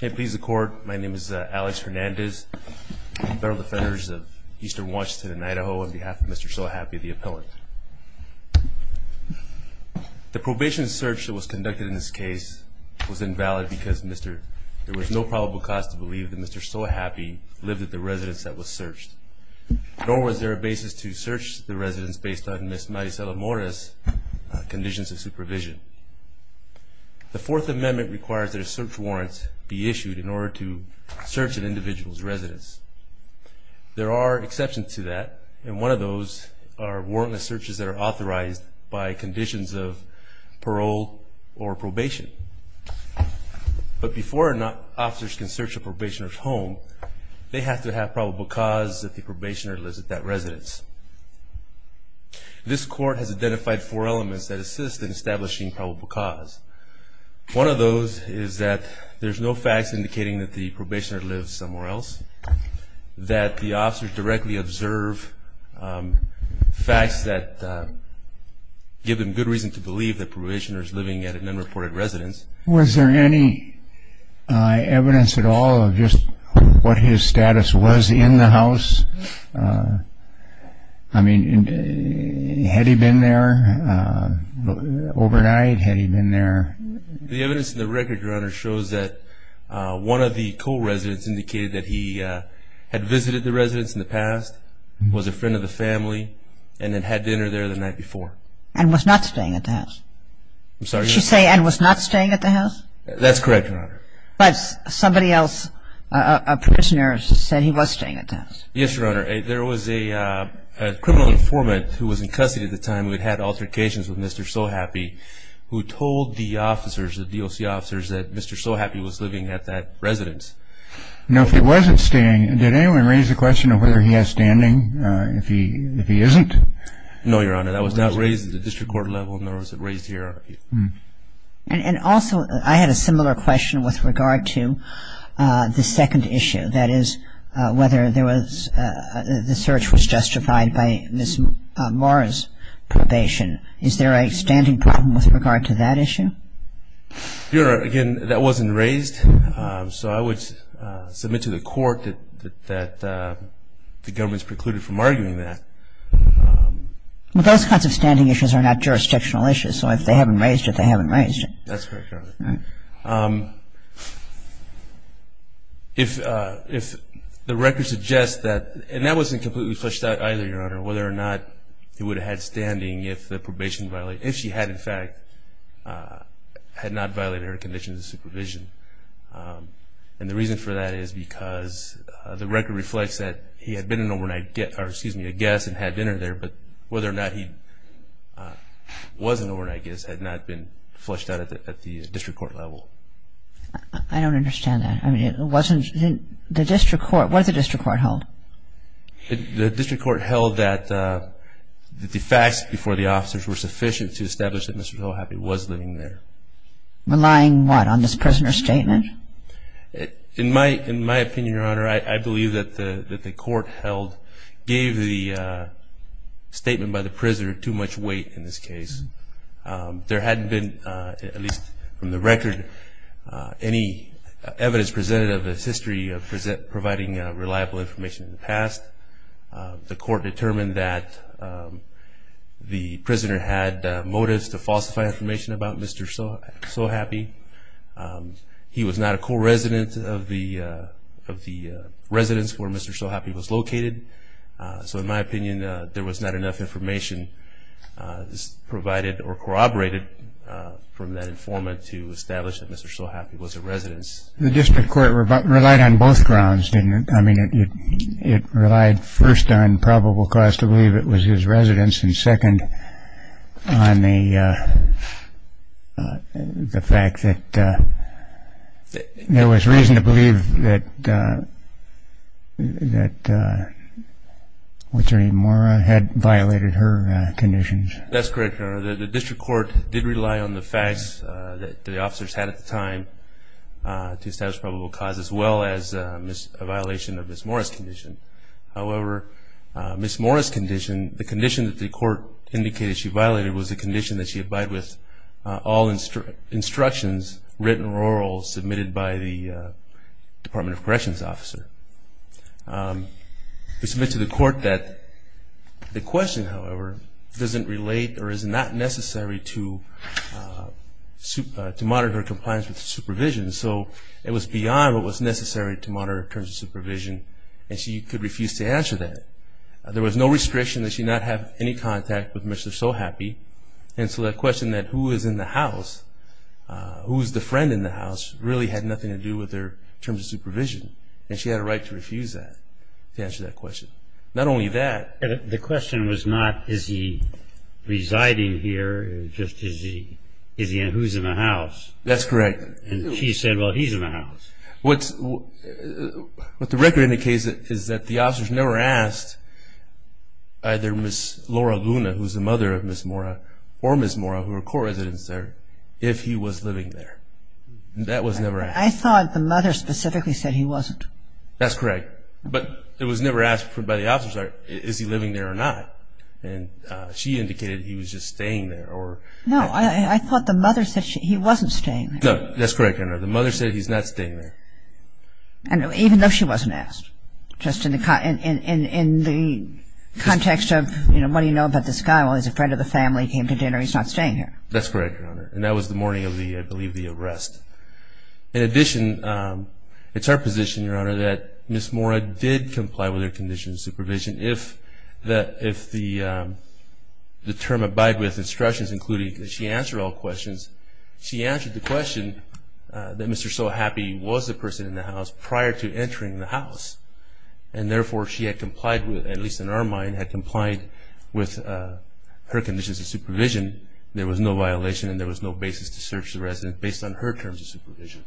Hey please the court, my name is Alex Hernandez, federal defenders of Eastern Washington and Idaho on behalf of Mr. So Happy the appellant. The probation search that was conducted in this case was invalid because there was no probable cause to believe that Mr. So Happy lived at the residence that was searched. Nor was there a basis to search the residence based on Ms. Maricela Mora's conditions of supervision. The Fourth Amendment requires that a search warrant be issued in order to search an individual's residence. There are exceptions to that and one of those are warrantless searches that are authorized by conditions of parole or probation. But before officers can search a probationer's home they have to have probable cause that the probationer lives at that residence. This court has identified four elements that assist in establishing probable cause. One of those is that there's no facts indicating that the probationer lives somewhere else, that the officers directly observe facts that give them good reason to believe that probationers living at an unreported residence. Was there any evidence at all of just what his status was in the house? I mean had he been there overnight? Had he been there? The evidence in the record, Your Honor, shows that one of the co-residents indicated that he had visited the residence in the past, was a friend of the family, and then had dinner there the night before. And was not staying at the house? I'm sorry? Did you say and was not staying at the house? That's correct, Your Honor. But somebody else, a prisoner said he was staying at the house. Yes, Your Honor. There was a criminal informant who was in custody at the time who had had altercations with Mr. Sohappi, who told the officers, the DOC officers, that Mr. Sohappi was living at that residence. Now if he wasn't staying, did anyone raise the question of whether he has standing? If he isn't? No, Your Honor, that was not raised at the district court level, nor was it raised here. And also I had a similar question with regard to the second issue, that is, whether there was, the search was justified by Ms. Mora's probation. Is there a standing problem with regard to that issue? Your Honor, again, that wasn't raised, so I would submit to the court that the government's precluded from arguing that. Those kinds of standing issues are not If the record suggests that, and that wasn't completely flushed out either, Your Honor, whether or not he would have had standing if the probation violated, if she had in fact, had not violated her conditions of supervision. And the reason for that is because the record reflects that he had been an overnight guest, or excuse me, a guest and had dinner there, but whether or not he was an overnight guest had not been flushed out at the district court level. I don't understand that. I mean, it wasn't, the district court, what did the district court hold? The district court held that the facts before the officers were sufficient to establish that Mr. Hillhappy was living there. Relying what, on this prisoner statement? In my, in my opinion, Your Honor, I believe that the court held, gave the statement by the There hadn't been, at least from the record, any evidence presented of his history of providing reliable information in the past. The court determined that the prisoner had motives to falsify information about Mr. Sohappy. He was not a co-resident of the residence where Mr. Sohappy was located. So in my opinion, there was not enough information provided or corroborated from that informant to establish that Mr. Sohappy was a residence. The district court relied on both grounds, didn't it? I mean, it relied first on probable cause to believe it was his residence, and second on the fact that there was reason to believe that, that Attorney Mora had violated her conditions. That's correct, Your Honor. The district court did rely on the facts that the officers had at the time to establish probable cause, as well as a violation of Ms. Mora's condition. However, Ms. Mora's condition, the condition that the court indicated she violated was the condition that she abide with all instructions written or oral submitted by the Department of Corrections officer. It was made to the court that the question, however, doesn't relate or is not necessary to monitor her compliance with supervision. So it was beyond what was necessary to monitor her terms of supervision, and she could refuse to answer that. There was no restriction that she not have any contact with Mr. Sohappy, and so that question that who is in the house, who's the friend in the house, really had nothing to do with her terms of supervision, and she had a right to refuse that, to answer that question. Not only that... Is he residing here, just is he, who's in the house? That's correct. And she said, well, he's in the house. What the record indicates is that the officers never asked either Ms. Laura Luna, who's the mother of Ms. Mora, or Ms. Mora, who were co-residents there, if he was living there. That was never asked. I thought the mother specifically said he wasn't. That's correct, but it was never asked by the officers, is he living there or not, and she indicated he was just staying there. No, I thought the mother said he wasn't staying there. No, that's correct, Your Honor. The mother said he's not staying there. And even though she wasn't asked, just in the context of, you know, what do you know about this guy? Well, he's a friend of the family, came to dinner, he's not staying here. That's correct, Your Honor, and that was the morning of the, I believe, the arrest. In addition, it's our position, Your Honor, that Ms. Mora did comply with her conditions of supervision if the term abide with instructions, including that she answer all questions. She answered the question that Mr. Sohappy was the person in the house prior to entering the house, and therefore, she had complied with, at least in our mind, had complied with her conditions of supervision. There was no violation and there was no basis to search the resident based on her terms of supervision.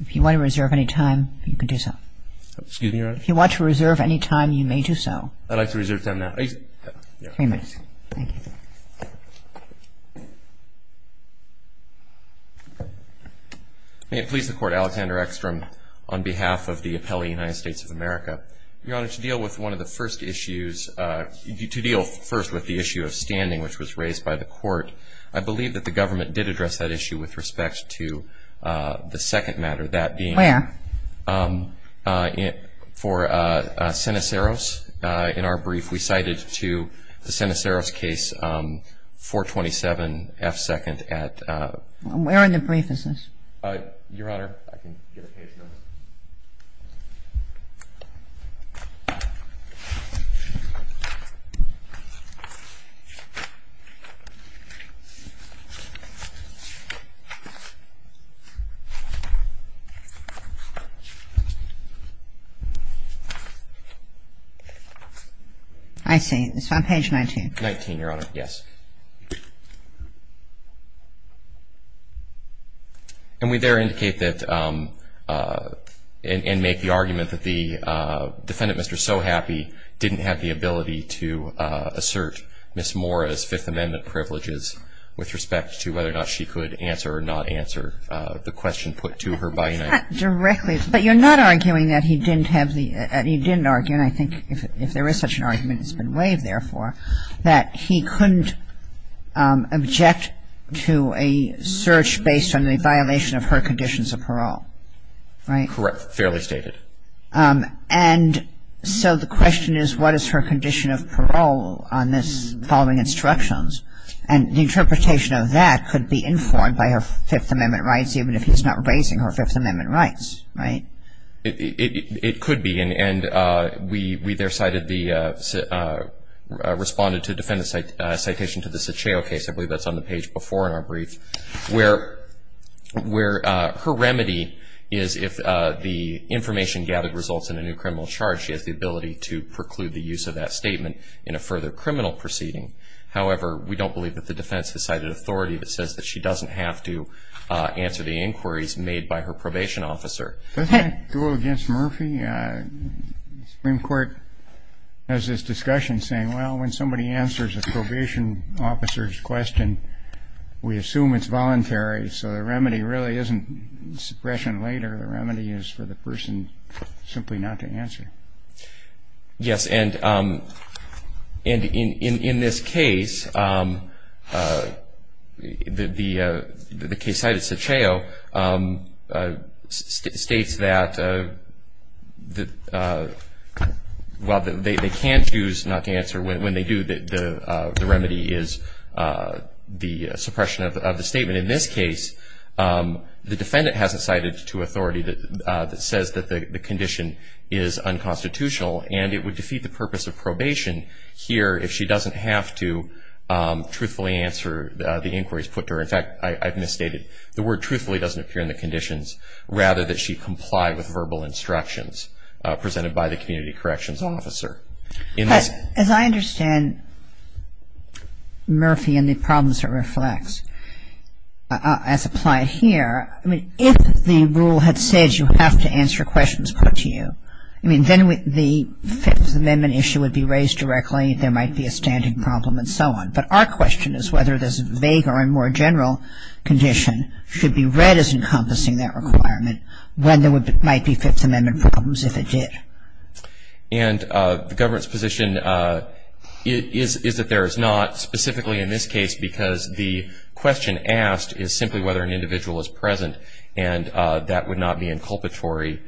If you want to reserve any time, you can do so. Excuse me, Your Honor? If you want to reserve any time, you may do so. I'd like to reserve time now. Three minutes. Thank you. May it please the Court, Alexander Eckstrom, on behalf of the appellee, United States of America, Your Honor, to deal with one of the first issues, to deal first with the issue of standing, which was raised by the plaintiff, Ms. Mora. And I think that the government did address that issue with respect to the second matter, that being. Where? For Seneceros. In our brief, we cited to the defendant, Mr. Sohappy, didn't have the ability to assert Ms. Mora's Fifth Amendment privileges with respect to the defendant, Mr. Sohappy's, And so the question is, what is her condition of parole on this following instructions? And the interpretation of that is that Ms. Mora's condition of parole is that could be informed by her Fifth Amendment rights, even if he's not raising her Fifth Amendment rights, right? It could be. And we there cited the, responded to defendant's citation to the Saccio case. I believe that's on the page before in our brief. Where her remedy is if the information gathered results in a new criminal charge, she has the ability to preclude the use of that statement in a further criminal proceeding. However, we don't believe that the defense has cited authority that says that she doesn't have to answer the inquiries made by her probation officer. Does that go against Murphy? Supreme Court has this discussion saying, well, when somebody answers a probation officer's question, we assume it's voluntary. So the remedy really isn't suppression later. The remedy is for the person simply not to answer. Yes. And in this case, the case cited Saccio states that while they can choose not to answer when they do, the remedy is the suppression of the statement. And in this case, the defendant hasn't cited to authority that says that the condition is unconstitutional. And it would defeat the purpose of probation here if she doesn't have to truthfully answer the inquiries put to her. In fact, I've misstated. The word truthfully doesn't appear in the conditions, rather that she comply with verbal instructions presented by the community corrections officer. As I understand Murphy and the problems it reflects, as applied here, I mean, if the rule had said you have to answer questions put to you, I mean, then the Fifth Amendment issue would be raised directly, there might be a standing problem and so on. But our question is whether this vague or a more general condition should be read as encompassing that requirement when there might be Fifth Amendment problems if it did. And the government's position is that there is not, specifically in this case, because the question asked is simply whether an individual is present. And that would not be inculpatory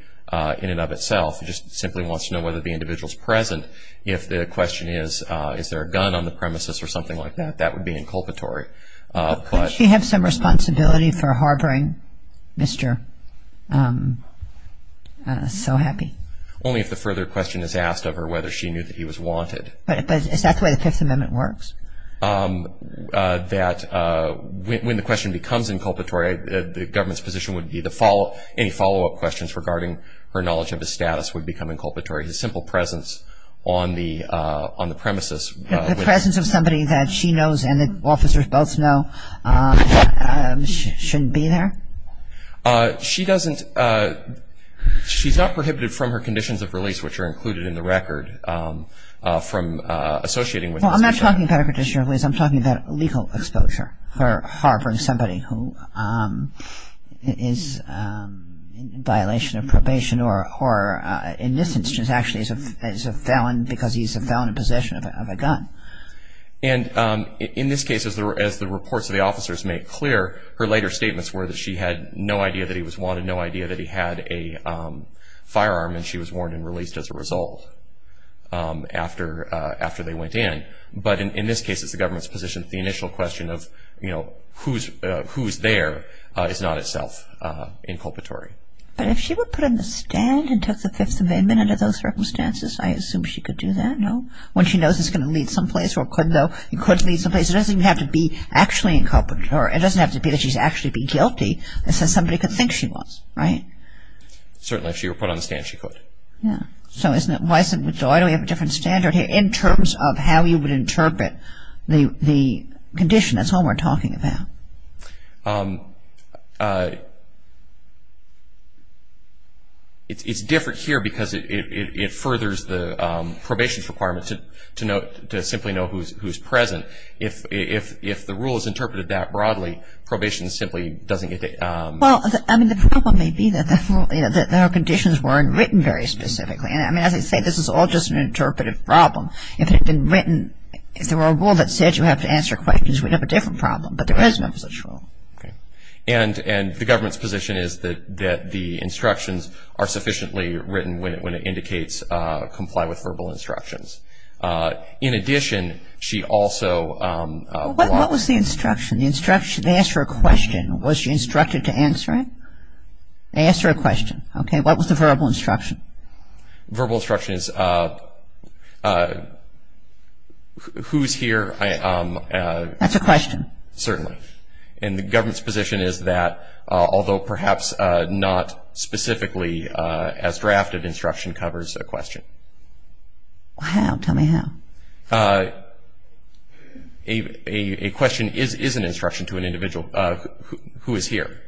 in and of itself. It just simply wants to know whether the individual is present. If the question is, is there a gun on the premises or something like that, that would be inculpatory. But she has some responsibility for harboring Mr. So Happy. Only if the further question is asked of her whether she knew that he was wanted. But is that the way the Fifth Amendment works? That when the question becomes inculpatory, the government's position would be any follow-up questions regarding her knowledge of his status would become inculpatory. His simple presence on the premises. The presence of somebody that she knows and the officers both know shouldn't be there? She doesn't, she's not prohibited from her conditions of release which are included in the record from associating with Mr. So Happy. Well, I'm not talking about a condition of release. I'm talking about legal exposure for harboring somebody who is in violation of probation or in this instance actually is a felon because he's a felon in possession of a gun. And in this case, as the reports of the officers make clear, her later statements were that she had no idea that he was wanted, no idea that he had a firearm and she was warned and released as a result after they went in. But in this case, it's the government's position that the initial question of, you know, who's there is not itself inculpatory. But if she would put in the stand and took the Fifth Amendment under those circumstances, I assume she could do that, no? When she knows it's going to lead someplace or could though, it could lead someplace. It doesn't even have to be actually inculpatory. It doesn't have to be that she's actually been guilty. It's that somebody could think she was, right? Certainly, if she were put on the stand, she could. Yeah. So isn't it, why do we have a different standard here in terms of how you would interpret the condition? That's all we're talking about. It's different here because it furthers the probation's requirement to simply know who's present. If the rule is interpreted that broadly, probation simply doesn't get to. Well, I mean, the problem may be that the conditions weren't written very specifically. I mean, as I say, this is all just an interpretive problem. If it had been written, if there were a rule that said you have to answer questions, we'd have a different problem. But there is no such rule. And the government's position is that the instructions are sufficiently written when it indicates comply with verbal instructions. In addition, she also blocks... What was the instruction? The instruction, they ask her a question. Was she instructed to answer it? They ask her a question. Okay, what was the verbal instruction? Verbal instruction is, who's here? That's a question. Certainly. And the government's position is that, although perhaps not specifically as drafted, instruction covers a question. How? Tell me how. A question is an instruction to an individual, who is here.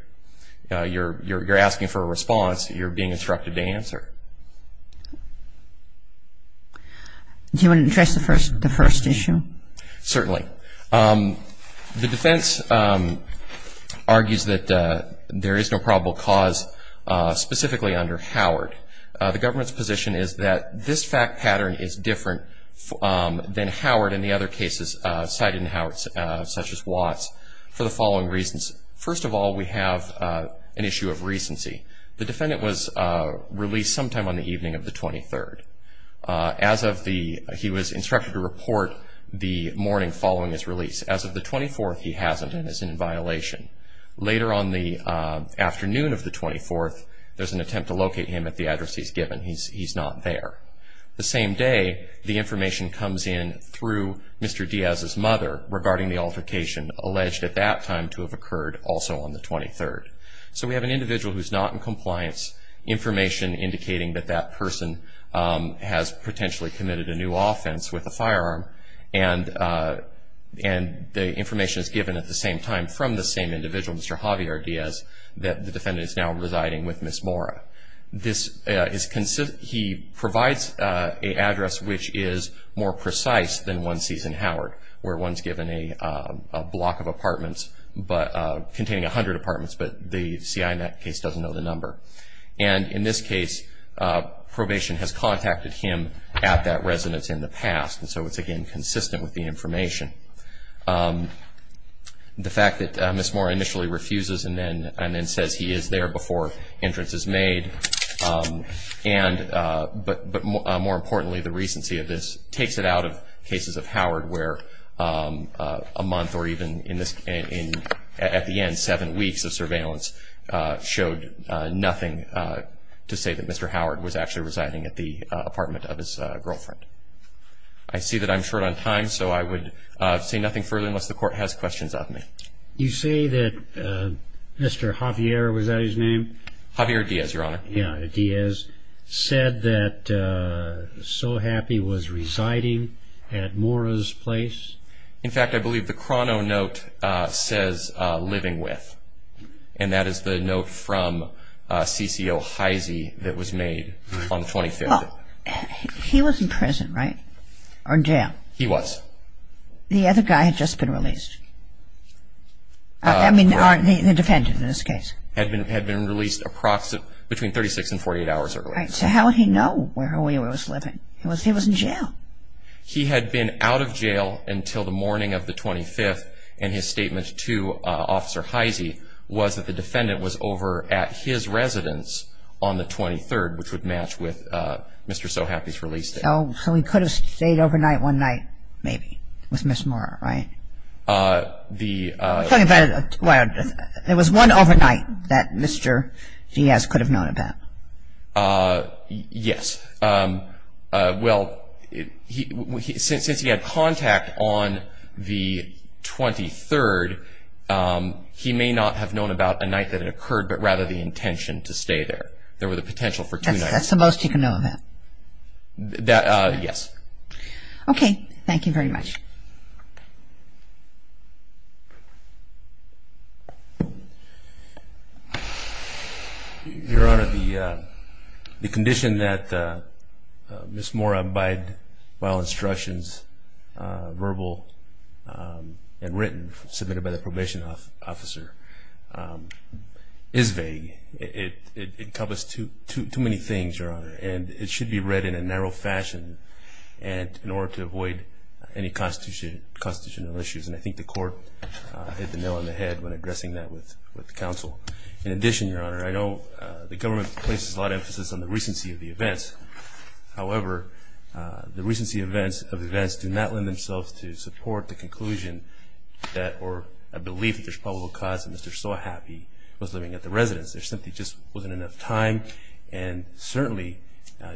You're asking for a response. You're being instructed to answer. Do you want to address the first issue? Certainly. The defense argues that there is no probable cause specifically under Howard. The government's position is that this fact pattern is different than Howard and the other cases cited in Howard, such as Watts, for the following reasons. First of all, we have an issue of recency. The defendant was released sometime on the evening of the 23rd. As of the, he was instructed to report the morning following his release. As of the 24th, he hasn't and is in violation. Later on the afternoon of the 24th, there's an attempt to locate him at the address he's given. He's not there. The same day, the information comes in through Mr. Diaz's mother regarding the altercation alleged at that time to have occurred also on the 23rd. So we have an individual who's not in compliance, information indicating that that person has potentially committed a new offense with a firearm. And the information is given at the same time from the same individual, Mr. Javier Diaz, that the defendant is now residing with Ms. Mora. This is, he provides an address which is more precise than one sees in Howard, where one's given a block of apartments containing 100 apartments, but the CI in that case doesn't know the number. And in this case, probation has contacted him at that residence in the past. And so it's, again, consistent with the information. The fact that Ms. Mora initially refuses and then says he is there before entrance is made, but more importantly, the recency of this takes it out of cases of Howard where a month or even in this, at the end, seven weeks of surveillance showed nothing to say that Mr. Howard was actually residing at the apartment of his girlfriend. I see that I'm short on time, so I would say nothing further unless the court has questions of me. You say that Mr. Javier, was that his name? Javier Diaz, Your Honor. Yeah, Diaz, said that So Happy was residing at Mora's place? In fact, I believe the chrono note says living with, and that is the note from CCO Heisey that was made on the 25th. Well, he was in prison, right? Or in jail? He was. The other guy had just been released? I mean, the defendant in this case. Had been released between 36 and 48 hours earlier. So how would he know where he was living? He was in jail. He had been out of jail until the morning of the 25th, and his statement to Officer Heisey was that the defendant was over at his residence on the 23rd, which would match with Mr. So Happy's release date. So he could have stayed overnight one night, maybe, with Ms. Mora, right? Talking about, well, there was one overnight that Mr. Diaz could have known about? Yes. Well, since he had contact on the 23rd, he may not have known about a night that had occurred, but rather the intention to stay there. There was a potential for two nights. That's the most he could know of that? Yes. Okay. Thank you very much. Your Honor, the condition that Ms. Mora abide by all instructions, verbal and written, submitted by the probation officer, is vague. It encompasses too many things, Your Honor, and it should be read in a narrow fashion in order to avoid any constitutional issues. And I think the court hit the nail on the head when addressing that with counsel. In addition, Your Honor, I know the government places a lot of emphasis on the recency of the events. However, the recency of events do not lend themselves to support the conclusion that, or a belief that there's probable cause that Mr. So Happy was living at the residence. There simply just wasn't enough time, and certainly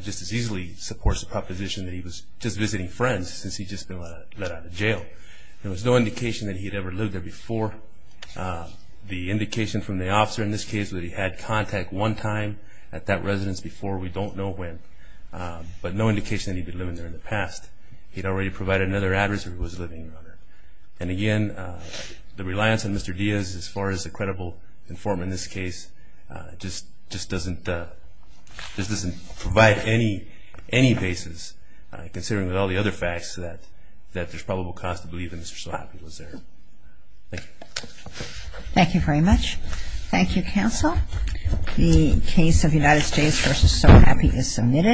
just as easily supports the proposition that he was just visiting friends since he'd just been let out of jail. There was no indication that he'd ever lived there before. The indication from the officer in this case was that he had contact one time at that residence before. We don't know when, but no indication that he'd been living there in the past. He'd already provided another address where he was living, Your Honor. And again, the reliance on Mr. Diaz as far as a credible informant in this case just doesn't provide any basis, considering with all the other facts that there's probable cause to believe that Mr. So Happy was there. Thank you. Thank you very much. Thank you, counsel. The case of United States v. So Happy is submitted.